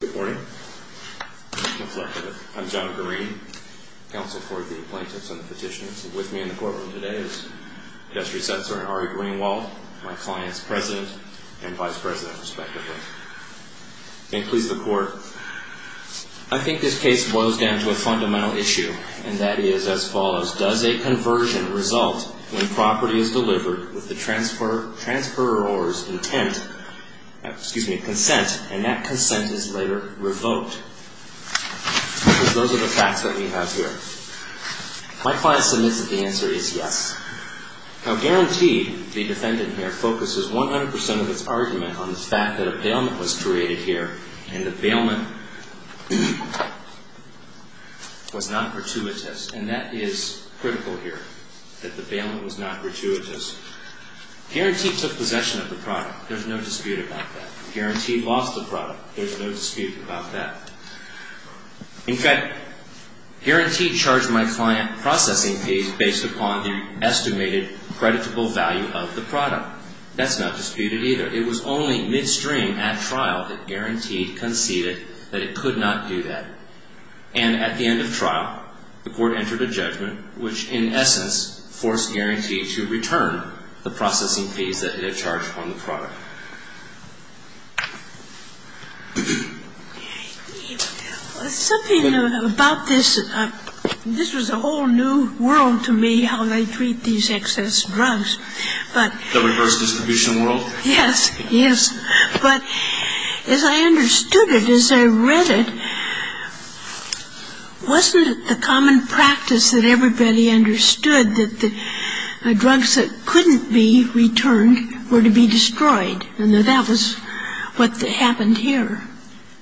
Good morning. I'm John Green, Counsel for the Plaintiffs and Petitioners. With me in the courtroom today is Justice Senator Ari Greenwald, my client's President and Vice President, respectively. May it please the Court, I think this case boils down to a fundamental issue, and that is as follows. Does a conversion result when property is delivered with the transferor's intent, excuse me, consent, and that consent is later revoked? Those are the facts that we have here. My client submits that the answer is yes. Now, guaranteed, the defendant here focuses 100% of its argument on the fact that a bailment was created here, and the bailment was not gratuitous, and that is critical here, that the bailment was not gratuitous. Guaranteed took possession of the product. There's no dispute about that. Guaranteed lost the product. There's no dispute about that. In fact, guaranteed charged my client processing fees based upon the estimated creditable value of the product. That's not disputed either. It was only midstream at trial that guaranteed conceded that it could not do that. And at the end of trial, the Court entered a judgment which, in essence, forced guaranteed to return the processing fees that it had charged on the product. Something about this, this was a whole new world to me, how they treat these excess drugs. But as I understood it, as I read it, wasn't it the common practice that everybody understood that the drugs that couldn't be returned were to be destroyed? And that that was what happened here.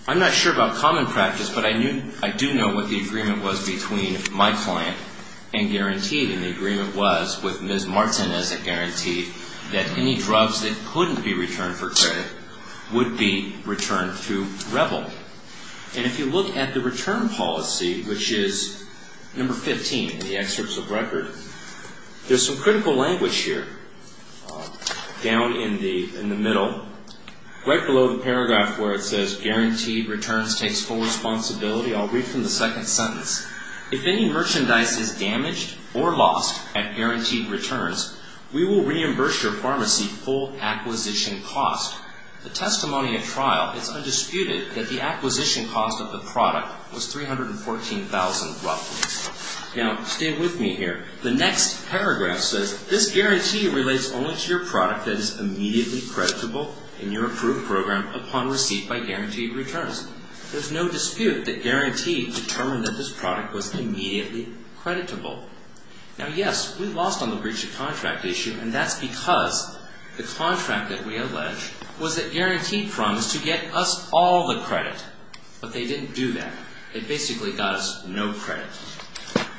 I'm not sure about common practice, but I do know what the agreement was between my client and guaranteed, and the agreement was with Ms. Martinez that guaranteed that any drugs that couldn't be returned for credit would be returned to Rebel. And if you look at the return policy, which is number 15 in the excerpts of record, there's some critical language here down in the middle, right below the paragraph where it says guaranteed returns takes full responsibility. I'll read from the second sentence. Now, stay with me here. The next paragraph says this guarantee relates only to your product that is immediately creditable in your approved program upon receipt by guaranteed return. There's no dispute that guaranteed determined that this product was immediately creditable. Now, yes, we lost on the breach of contract issue, and that's because the contract that we alleged was that guaranteed promised to get us all the credit. But they didn't do that. It basically got us no credit.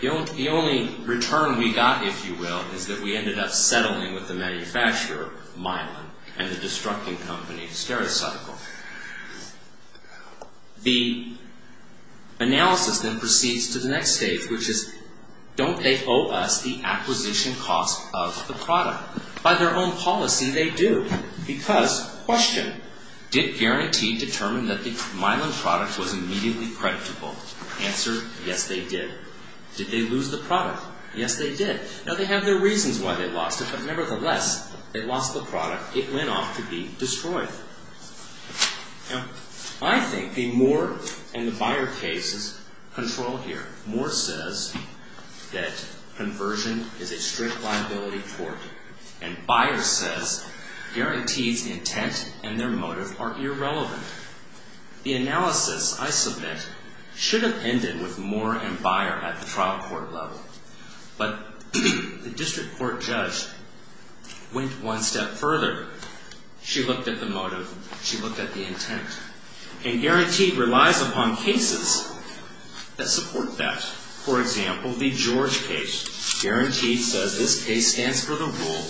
The only return we got, if you will, is that we ended up settling with the manufacturer, Mylan, and the destructing company, Stericycle. The analysis then proceeds to the next stage, which is don't they owe us the acquisition cost of the product? By their own policy, they do. Because question, did guaranteed determine that the Mylan product was immediately creditable? Answer, yes, they did. Did they lose the product? Yes, they did. Now, they have their reasons why they lost it, but nevertheless, they lost the product. It went off to be destroyed. Now, I think the Moore and the Buyer cases control here. Moore says that conversion is a strict liability tort, and Buyer says guaranteed's intent and their motive are irrelevant. The analysis, I submit, should have ended with Moore and Buyer at the trial court level. But the district court judge went one step further. She looked at the motive. She looked at the intent. And guaranteed relies upon cases that support that. For example, the George case. Guaranteed says this case stands for the rule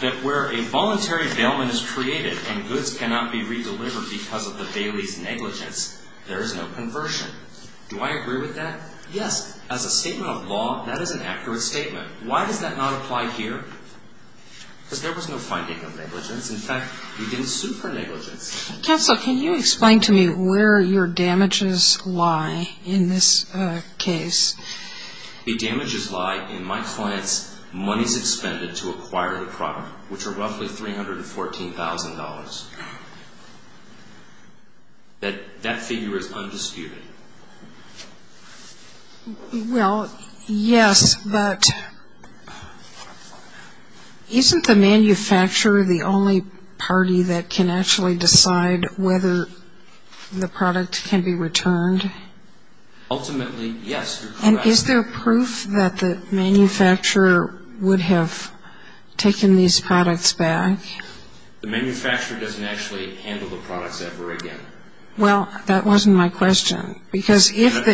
that where a voluntary bailment is created and goods cannot be redelivered because of the bailee's negligence, there is no conversion. Do I agree with that? Yes. As a statement of law, that is an accurate statement. Why does that not apply here? Because there was no finding of negligence. In fact, we didn't sue for negligence. Counsel, can you explain to me where your damages lie in this case? The damages lie in my client's monies expended to acquire the product, which are roughly $314,000. That figure is undisputed. Well, yes, but isn't the manufacturer the only party that can actually decide whether the product can be returned? Ultimately, yes. And is there proof that the manufacturer would have taken these products back? The manufacturer doesn't actually handle the products ever again. Well, that wasn't my question. Because if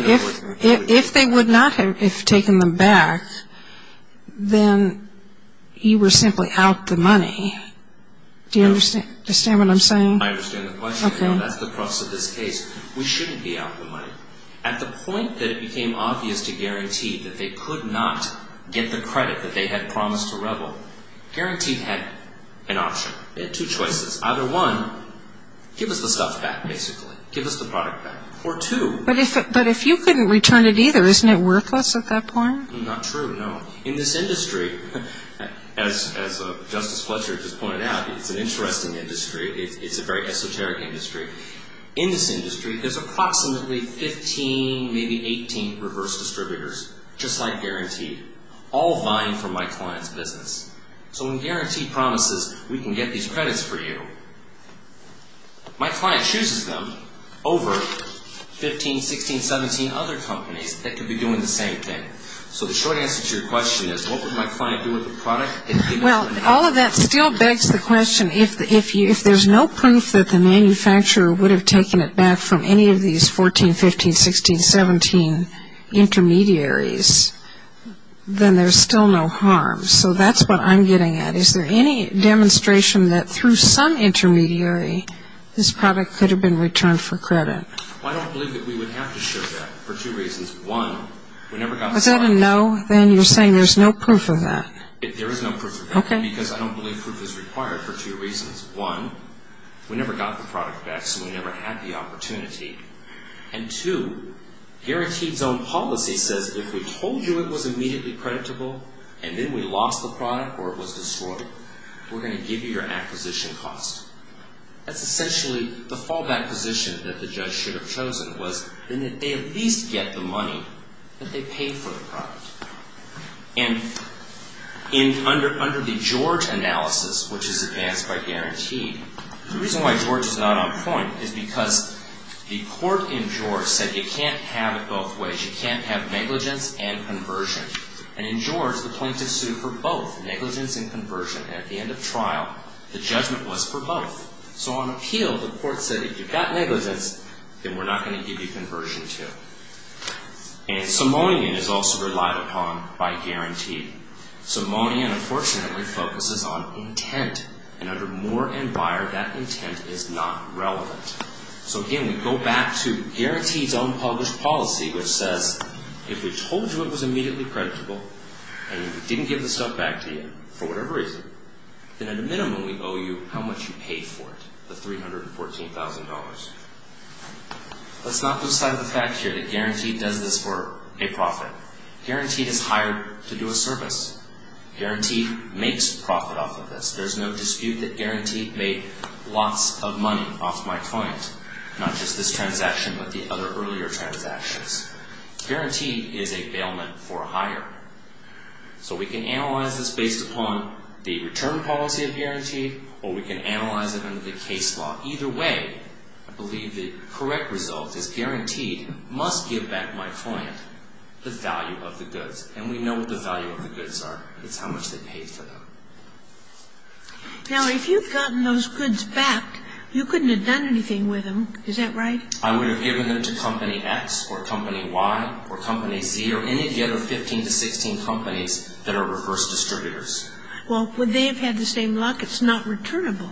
they would not have taken them back, then you were simply out the money. Do you understand what I'm saying? I understand the question. That's the process of this case. We shouldn't be out the money. At the point that it became obvious to Guarantee that they could not get the credit that they had promised to Rebel, Guarantee had an option. They had two choices. Either one, give us the stuff back, basically. Give us the product back. Or two. But if you couldn't return it either, isn't it worthless at that point? Not true, no. In this industry, as Justice Fletcher just pointed out, it's an interesting industry. It's a very esoteric industry. In this industry, there's approximately 15, maybe 18 reverse distributors, just like Guarantee, all vying for my client's business. So when Guarantee promises, we can get these credits for you, my client chooses them over 15, 16, 17 other companies that could be doing the same thing. So the short answer to your question is, what would my client do with the product? Well, all of that still begs the question, if there's no proof that the manufacturer would have taken it back from any of these 14, 15, 16, 17 intermediaries, then there's still no harm. So that's what I'm getting at. Is there any demonstration that through some intermediary, this product could have been returned for credit? I don't believe that we would have to show that for two reasons. One, we never got the product. Was that a no? Then you're saying there's no proof of that. There is no proof of that. Okay. Because I don't believe proof is required for two reasons. One, we never got the product back, so we never had the opportunity. And two, Guarantee's own policy says if we told you it was immediately creditable and then we lost the product or it was destroyed, we're going to give you your acquisition cost. That's essentially the fallback position that the judge should have chosen was then that they at least get the money that they paid for the product. And under the George analysis, which is advanced by Guarantee, the reason why George is not on point is because the court in George said you can't have it both ways. You can't have negligence and conversion. And in George, the plaintiff sued for both, negligence and conversion. At the end of trial, the judgment was for both. So on appeal, the court said if you've got negligence, then we're not going to give you conversion too. And Simonian is also relied upon by Guarantee. Simonian, unfortunately, focuses on intent. And under Moore and Beyer, that intent is not relevant. So again, we go back to Guarantee's own published policy, which says if we told you it was immediately creditable and we didn't give the stuff back to you for whatever reason, then at a minimum we owe you how much you paid for it, the $314,000. Let's not lose sight of the fact here that Guarantee does this for a profit. Guarantee is hired to do a service. Guarantee makes profit off of this. There's no dispute that Guarantee made lots of money off my client, not just this transaction but the other earlier transactions. Guarantee is a bailment for a hire. So we can analyze this based upon the return policy of Guarantee or we can analyze it under the case law. Either way, I believe the correct result is Guarantee must give back my client the value of the goods. And we know what the value of the goods are. It's how much they paid for them. Now, if you've gotten those goods back, you couldn't have done anything with them. Is that right? I would have given them to Company X or Company Y or Company Z or any of the other 15 to 16 companies that are reverse distributors. Well, would they have had the same luck? It's not returnable.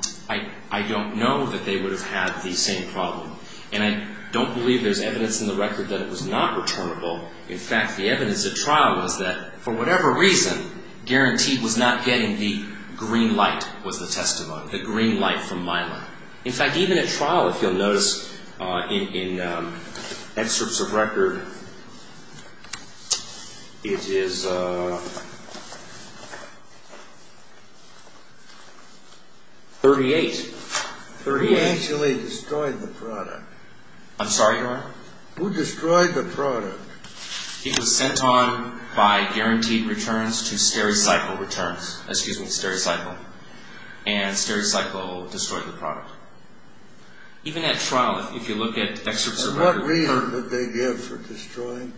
I don't know that they would have had the same problem. And I don't believe there's evidence in the record that it was not returnable. In fact, the evidence at trial was that for whatever reason, Guarantee was not getting the green light was the testimony, the green light from Milo. In fact, even at trial, if you'll notice in excerpts of record, it is 38. Who actually destroyed the product? I'm sorry? Who destroyed the product? It was sent on by Guaranteed Returns to Stericycle Returns. Excuse me, Stericycle. And Stericycle destroyed the product. Even at trial, if you look at excerpts of record. For what reason did they give for destroying?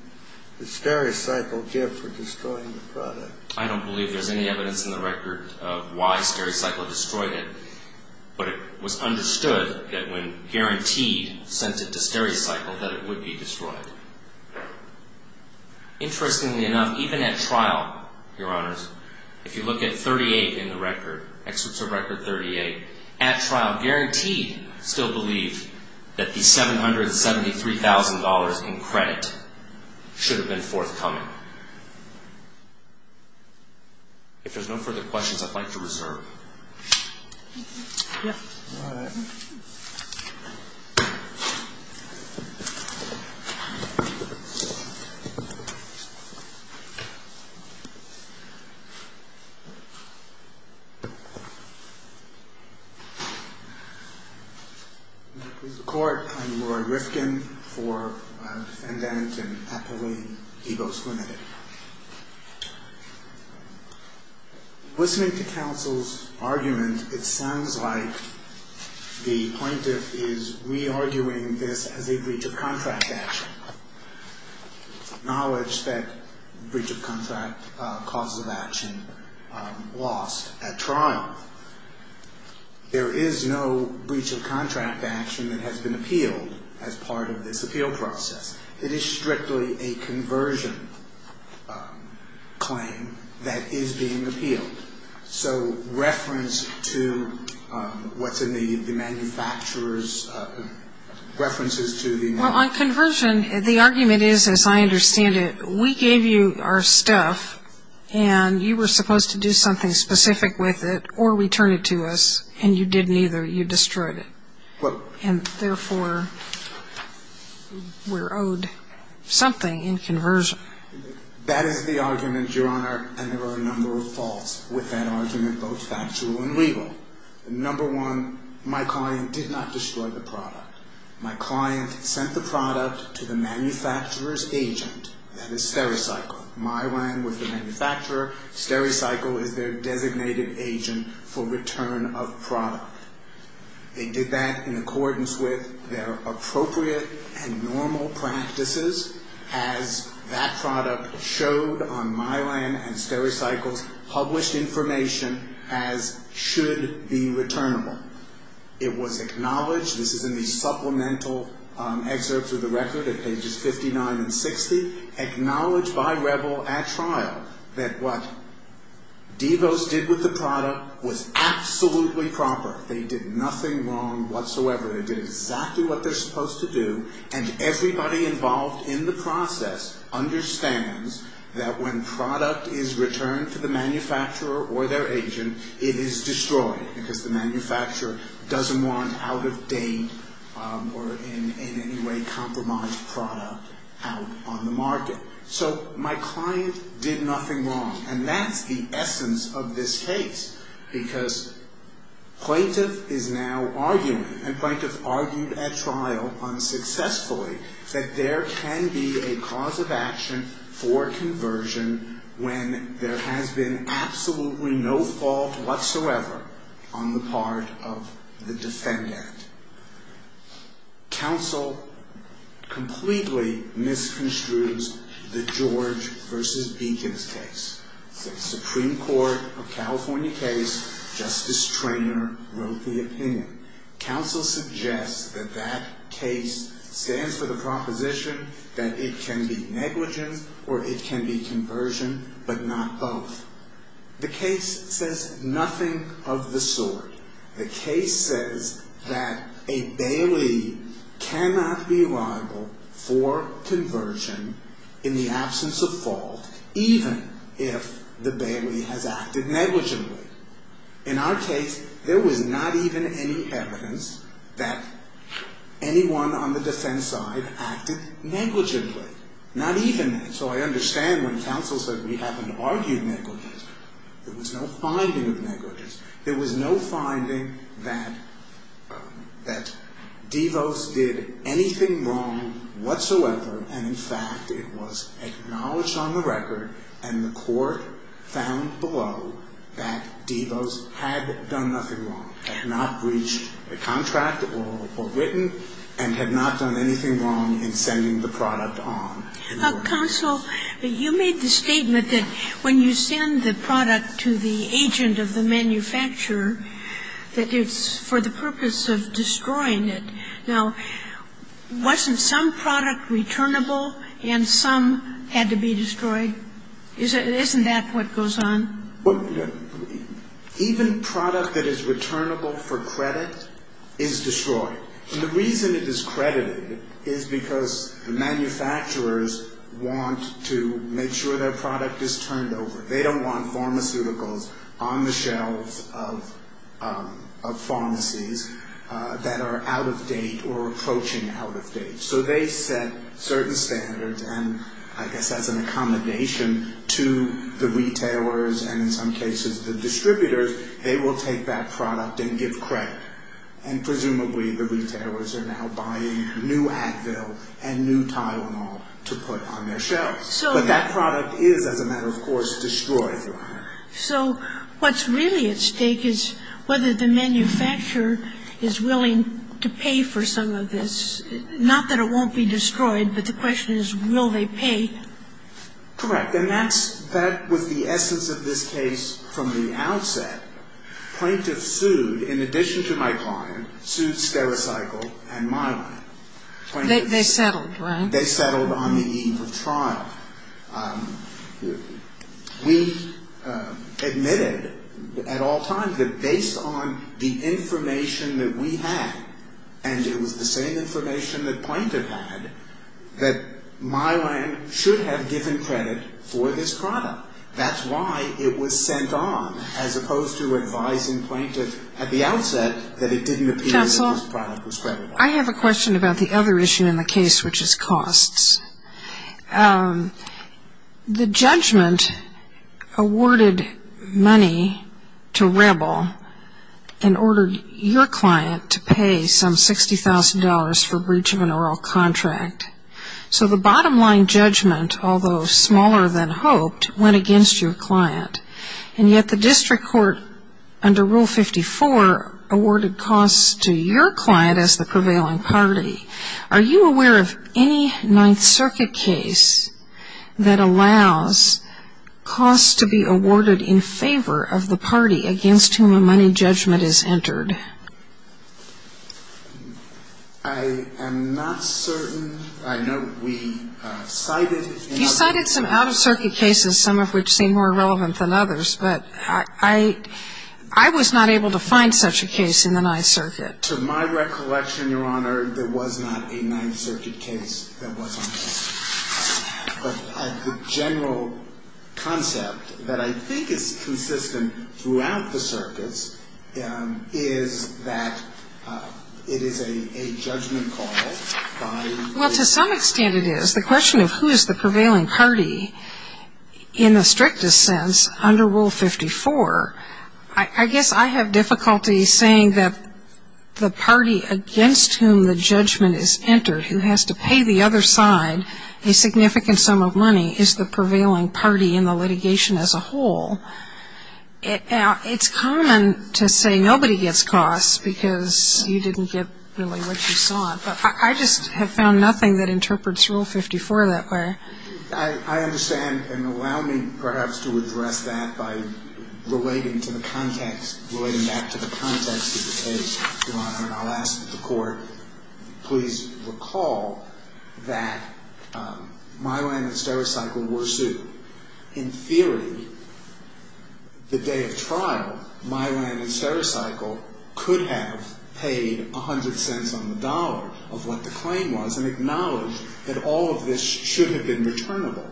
Did Stericycle give for destroying the product? I don't believe there's any evidence in the record of why Stericycle destroyed it. But it was understood that when Guaranteed sent it to Stericycle that it would be destroyed. Interestingly enough, even at trial, Your Honors, if you look at 38 in the record, excerpts of record 38, at trial Guaranteed still believed that the $773,000 in credit should have been forthcoming. If there's no further questions, I'd like to reserve. Yes. All right. Court, I'm Roy Rifkin for defendant in Appalachian Egos Limited. Listening to counsel's argument, it sounds like the plaintiff is re-arguing this as a breach of contract action. Acknowledge that breach of contract causes of action lost at trial. There is no breach of contract action that has been appealed as part of this appeal process. It is strictly a conversion claim that is being appealed. So reference to what's in the manufacturer's references to the manufacturer. Well, on conversion, the argument is, as I understand it, we gave you our stuff, and you were supposed to do something specific with it or return it to us, and you didn't either. You destroyed it. And therefore, we're owed something in conversion. That is the argument, Your Honor, and there are a number of faults with that argument, both factual and legal. Number one, my client did not destroy the product. My client sent the product to the manufacturer's agent, that is SteriCycle. My rank was the manufacturer. SteriCycle is their designated agent for return of product. They did that in accordance with their appropriate and normal practices, as that product showed on my land and SteriCycle's published information as should be returnable. It was acknowledged, this is in the supplemental excerpts of the record at pages 59 and 60, acknowledged by Rebel at trial that what DeVos did with the product was absolutely proper. They did nothing wrong whatsoever. They did exactly what they're supposed to do, and everybody involved in the process understands that when product is returned to the manufacturer or their agent, it is destroyed because the manufacturer doesn't want out-of-date or in any way compromised product out on the market. So my client did nothing wrong, and that's the essence of this case, because plaintiff is now arguing, and plaintiff argued at trial unsuccessfully, that there can be a cause of action for conversion when there has been absolutely no fault whatsoever on the part of the defendant. Counsel completely misconstrues the George v. Beacons case. It's a Supreme Court of California case. Justice Treanor wrote the opinion. Counsel suggests that that case stands for the proposition that it can be negligence or it can be conversion, but not both. The case says nothing of the sort. The case says that a Bailey cannot be liable for conversion in the absence of fault, even if the Bailey has acted negligently. In our case, there was not even any evidence that anyone on the defense side acted negligently. Not even that. So I understand when counsel said we haven't argued negligence. There was no finding of negligence. There was no finding that DeVos did anything wrong whatsoever, and in fact, it was acknowledged on the record and the court found below that DeVos had done nothing wrong, had not breached a contract or written, and had not done anything wrong in sending the product on. Counsel, you made the statement that when you send the product to the agent of the manufacturer, that it's for the purpose of destroying it. Now, wasn't some product returnable and some had to be destroyed? Isn't that what goes on? Even product that is returnable for credit is destroyed. And the reason it is credited is because the manufacturers want to make sure their product is turned over. They don't want pharmaceuticals on the shelves of pharmacies that are out of date or approaching out of date. So they set certain standards, and I guess as an accommodation to the retailers and in some cases the distributors, they will take that product and give credit. And presumably the retailers are now buying new Advil and new Tylenol to put on their shelves. But that product is, as a matter of course, destroyed. So what's really at stake is whether the manufacturer is willing to pay for some of this. Not that it won't be destroyed, but the question is, will they pay? Correct. And that's the essence of this case from the outset. Plaintiffs sued, in addition to my client, sued Stericycle and Mylan. They settled, right? They settled on the eve of trial. We admitted at all times that based on the information that we had, and it was the same information that plaintiff had, that Mylan should have given credit for this product. That's why it was sent on, as opposed to advising plaintiffs at the outset that it didn't appear that this product was credited. I have a question about the other issue in the case, which is costs. The judgment awarded money to Rebel and ordered your client to pay some $60,000 for breach of an oral contract. So the bottom line judgment, although smaller than hoped, went against your client. And yet the district court, under Rule 54, awarded costs to your client as the prevailing party. Are you aware of any Ninth Circuit case that allows costs to be awarded in favor of the party against whom a money judgment is entered? I am not certain. I know we cited in other cases. Some of which seem more relevant than others. But I was not able to find such a case in the Ninth Circuit. To my recollection, Your Honor, there was not a Ninth Circuit case that was on the case. But the general concept that I think is consistent throughout the circuits is that it is a judgment call by the party. The question of who is the prevailing party in the strictest sense under Rule 54, I guess I have difficulty saying that the party against whom the judgment is entered who has to pay the other side a significant sum of money is the prevailing party in the litigation as a whole. It's common to say nobody gets costs because you didn't get really what you sought. But I just have found nothing that interprets Rule 54 that way. I understand. And allow me perhaps to address that by relating to the context, relating back to the context of the case, Your Honor. And I'll ask the Court, please recall that Mylan and Stericycle were sued. In theory, the day of trial, Mylan and Stericycle could have paid 100 cents on the dollar of what the claim was and acknowledged that all of this should have been returnable,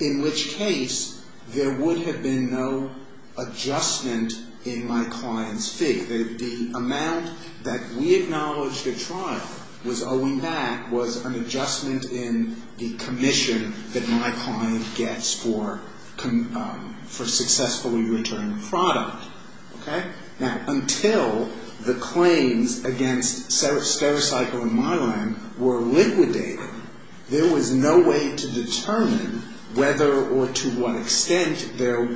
in which case there would have been no adjustment in my client's fee. The amount that we acknowledged at trial was owing back was an adjustment in the commission that my client gets for successfully returning the product. Okay? Now, until the claims against Stericycle and Mylan were liquidated, there was no way to determine whether or to what extent there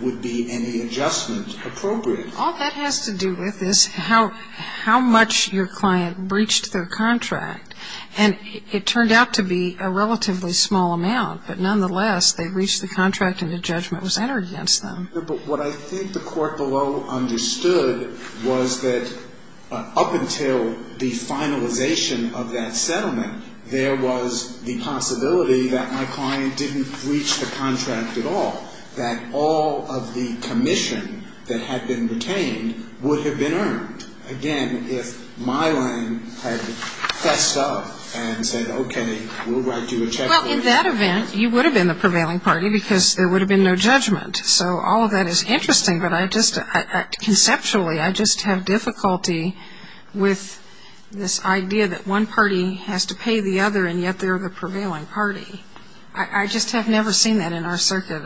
would be any adjustment appropriate. All that has to do with is how much your client breached their contract. And it turned out to be a relatively small amount. But nonetheless, they breached the contract and a judgment was entered against them. But what I think the Court below understood was that up until the finalization of that settlement, there was the possibility that my client didn't breach the contract at all, that all of the commission that had been retained would have been earned. Again, if Mylan had fessed up and said, okay, we'll write you a check for it. Well, in that event, you would have been the prevailing party because there would have been no judgment. So all of that is interesting, but I just, conceptually, I just have difficulty with this idea that one party has to pay the other and yet they're the prevailing party. I just have never seen that in our circuit.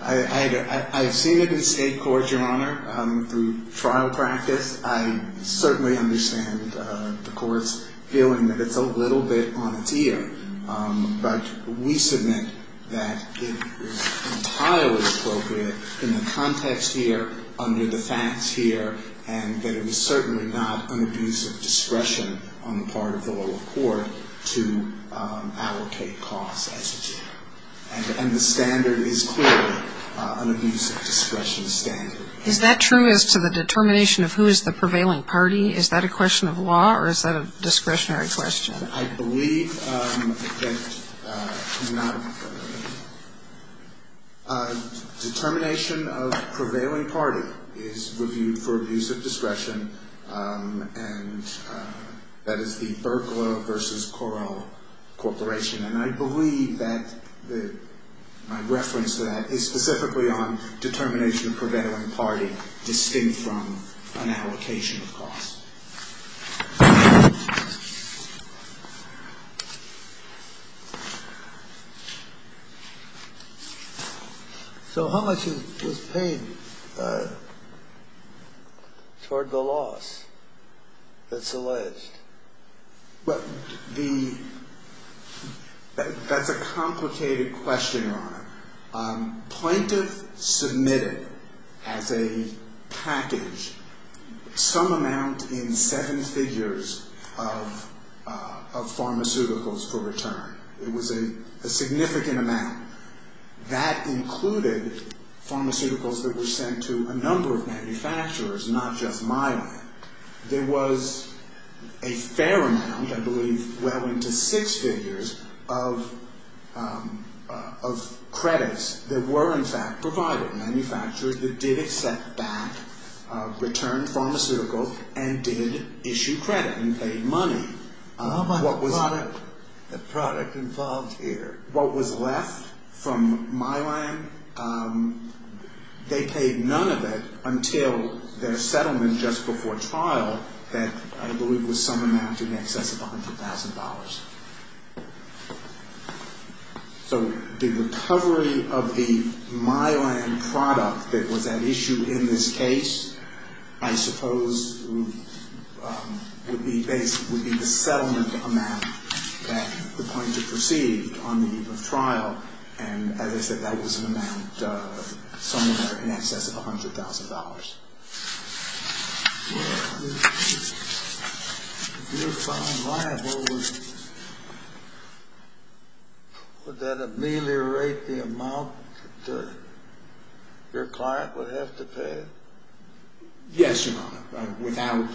I've seen it in state courts, Your Honor, through trial practice. I certainly understand the Court's feeling that it's a little bit on its ear. But we submit that it is entirely appropriate in the context here, under the facts here, and that it was certainly not an abuse of discretion on the part of the lower court to allocate costs as it should. And the standard is clearly an abuse of discretion standard. Is that true as to the determination of who is the prevailing party? Is that a question of law or is that a discretionary question? I believe that determination of prevailing party is reviewed for abuse of discretion, and that is the Berglo versus Correll Corporation. And I believe that my reference to that is specifically on determination of prevailing party distinct from an allocation of costs. So how much is paid toward the loss that's alleged? Well, that's a complicated question, Your Honor. Plaintiff submitted as a package some amount in seven figures of pharmaceuticals for return. It was a significant amount. That included pharmaceuticals that were sent to a number of manufacturers, not just my lab. There was a fair amount, I believe well into six figures, of credits that were, in fact, provided. Manufacturers that did accept back returned pharmaceuticals and did issue credit and paid money. How about the product involved here? What was left from my lab, they paid none of it until their settlement just before trial that I believe was some amount in excess of $100,000. So the recovery of the my lab product that was at issue in this case, I suppose, would be the settlement amount that the plaintiff received on the eve of trial, and as I said, that was an amount somewhere in excess of $100,000. If you're found liable, would that ameliorate the amount that your client would have to pay? Yes, Your Honor. Without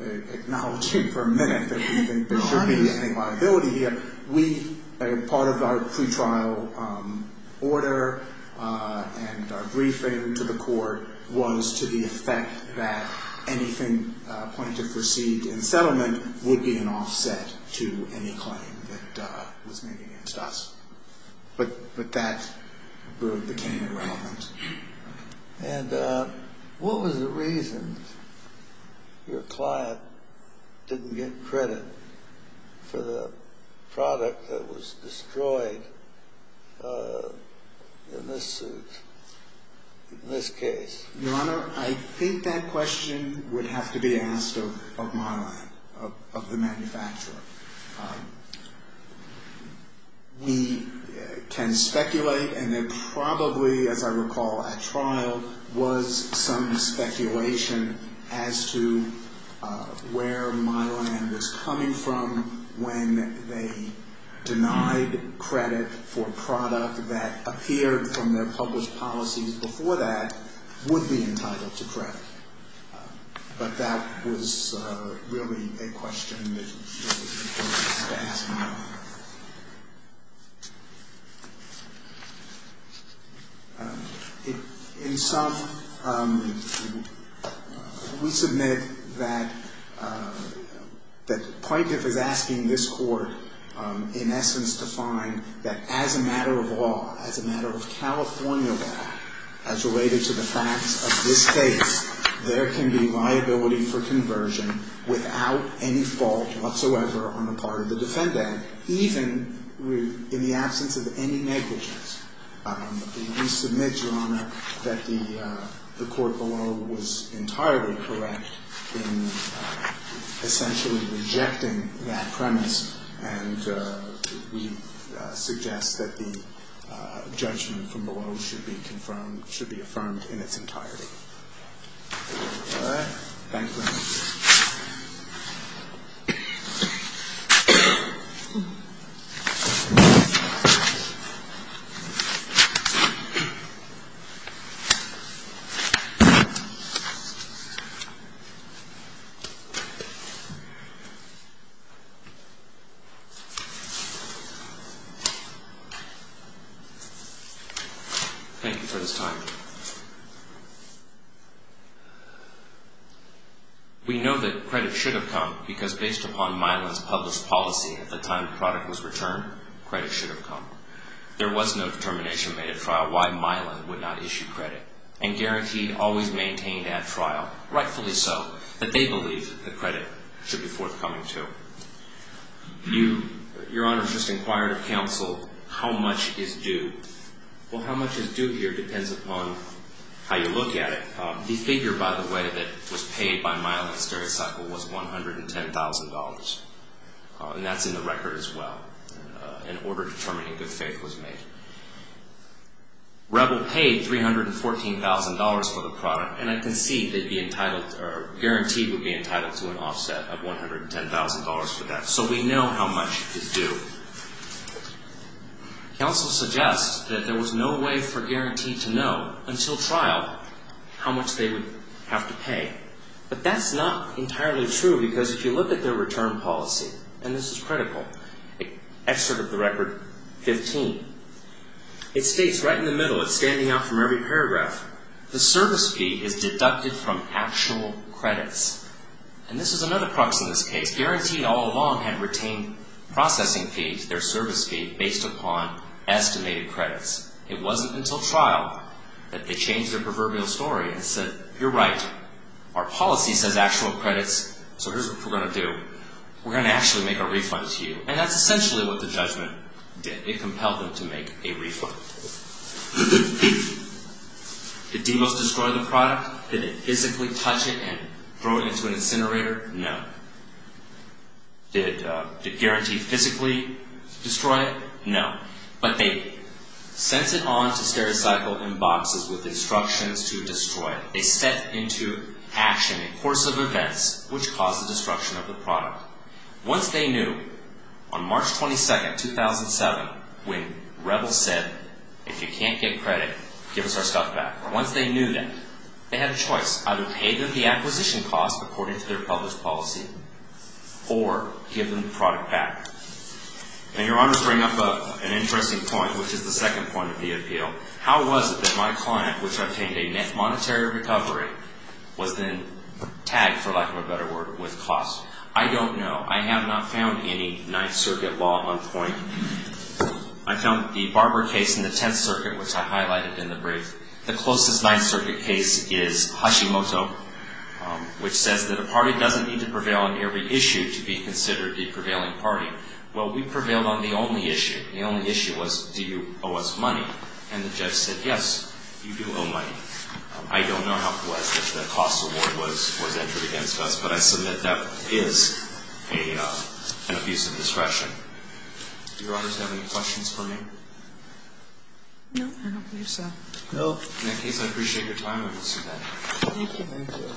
acknowledging for a minute that there should be any liability here, we, part of our pretrial order and our briefing to the court was to the effect that anything the plaintiff received in settlement would be an offset to any claim that was made against us. But that proved to be irrelevant. And what was the reason your client didn't get credit for the product that was destroyed in this suit, in this case? Your Honor, I think that question would have to be asked of my lab, of the manufacturer. We can speculate, and there probably, as I recall, at trial was some speculation as to where my lab was coming from when they denied credit for a product that appeared from their published policies before that would be entitled to credit. But that was really a question that should have been asked. In sum, we submit that the plaintiff is asking this court, in essence, to find that as a matter of law, as a matter of California law, as related to the facts of this case, there can be liability for conversion without any fault whatsoever on the part of the defendant, even in the absence of any negligence. We submit, Your Honor, that the court below was entirely correct in essentially rejecting that premise. And we suggest that the judgment from below should be confirmed, should be affirmed in its entirety. Thank you, Your Honor. Thank you. Thank you for this time. We know that credit should have come because based upon Mylan's published policy at the time the product was returned, credit should have come. There was no determination made at trial why Mylan would not issue credit and guaranteed always maintained at trial, rightfully so, that they believe the credit should be forthcoming to. Your Honor has just inquired of counsel how much is due. Well, how much is due here depends upon how you look at it. The figure, by the way, that was paid by Mylan Stericycle was $110,000. And that's in the record as well. An order determining good faith was made. Rebel paid $314,000 for the product, and I can see they'd be entitled or guaranteed would be entitled to an offset of $110,000 for that. So we know how much is due. Counsel suggests that there was no way for guaranteed to know until trial how much they would have to pay. But that's not entirely true because if you look at their return policy, and this is critical, excerpt of the record 15, it states right in the middle, it's standing out from every paragraph, the service fee is deducted from actual credits. And this is another crux in this case. Guaranteed all along had retained processing fees, their service fee, based upon estimated credits. It wasn't until trial that they changed their proverbial story and said, you're right, our policy says actual credits, so here's what we're going to do. We're going to actually make a refund to you. And that's essentially what the judgment did. It compelled them to make a refund. Did Demos destroy the product? Did it physically touch it and throw it into an incinerator? No. Did Guaranteed physically destroy it? No. But they sent it on to Stereocycle in boxes with instructions to destroy it. They stepped into action in the course of events, which caused the destruction of the product. Once they knew, on March 22, 2007, when Rebels said, if you can't get credit, give us our stuff back. Once they knew that, they had a choice. Either pay them the acquisition cost according to their published policy, or give them the product back. And your honors bring up an interesting point, which is the second point of the appeal. How was it that my client, which obtained a net monetary recovery, was then tagged, for lack of a better word, with Klaus? I don't know. I have not found any Ninth Circuit law on point. I found the Barber case in the Tenth Circuit, which I highlighted in the brief. The closest Ninth Circuit case is Hashimoto, which says that a party doesn't need to prevail on every issue to be considered the prevailing party. Well, we prevailed on the only issue. The only issue was, do you owe us money? And the judge said, yes, you do owe money. I don't know how close the cost award was entered against us, but I submit that is an abuse of discretion. Do your honors have any questions for me? No, I don't believe so. In that case, I appreciate your time. Thank you. Thank you.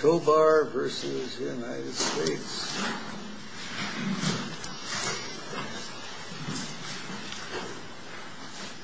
Chobar v. United States.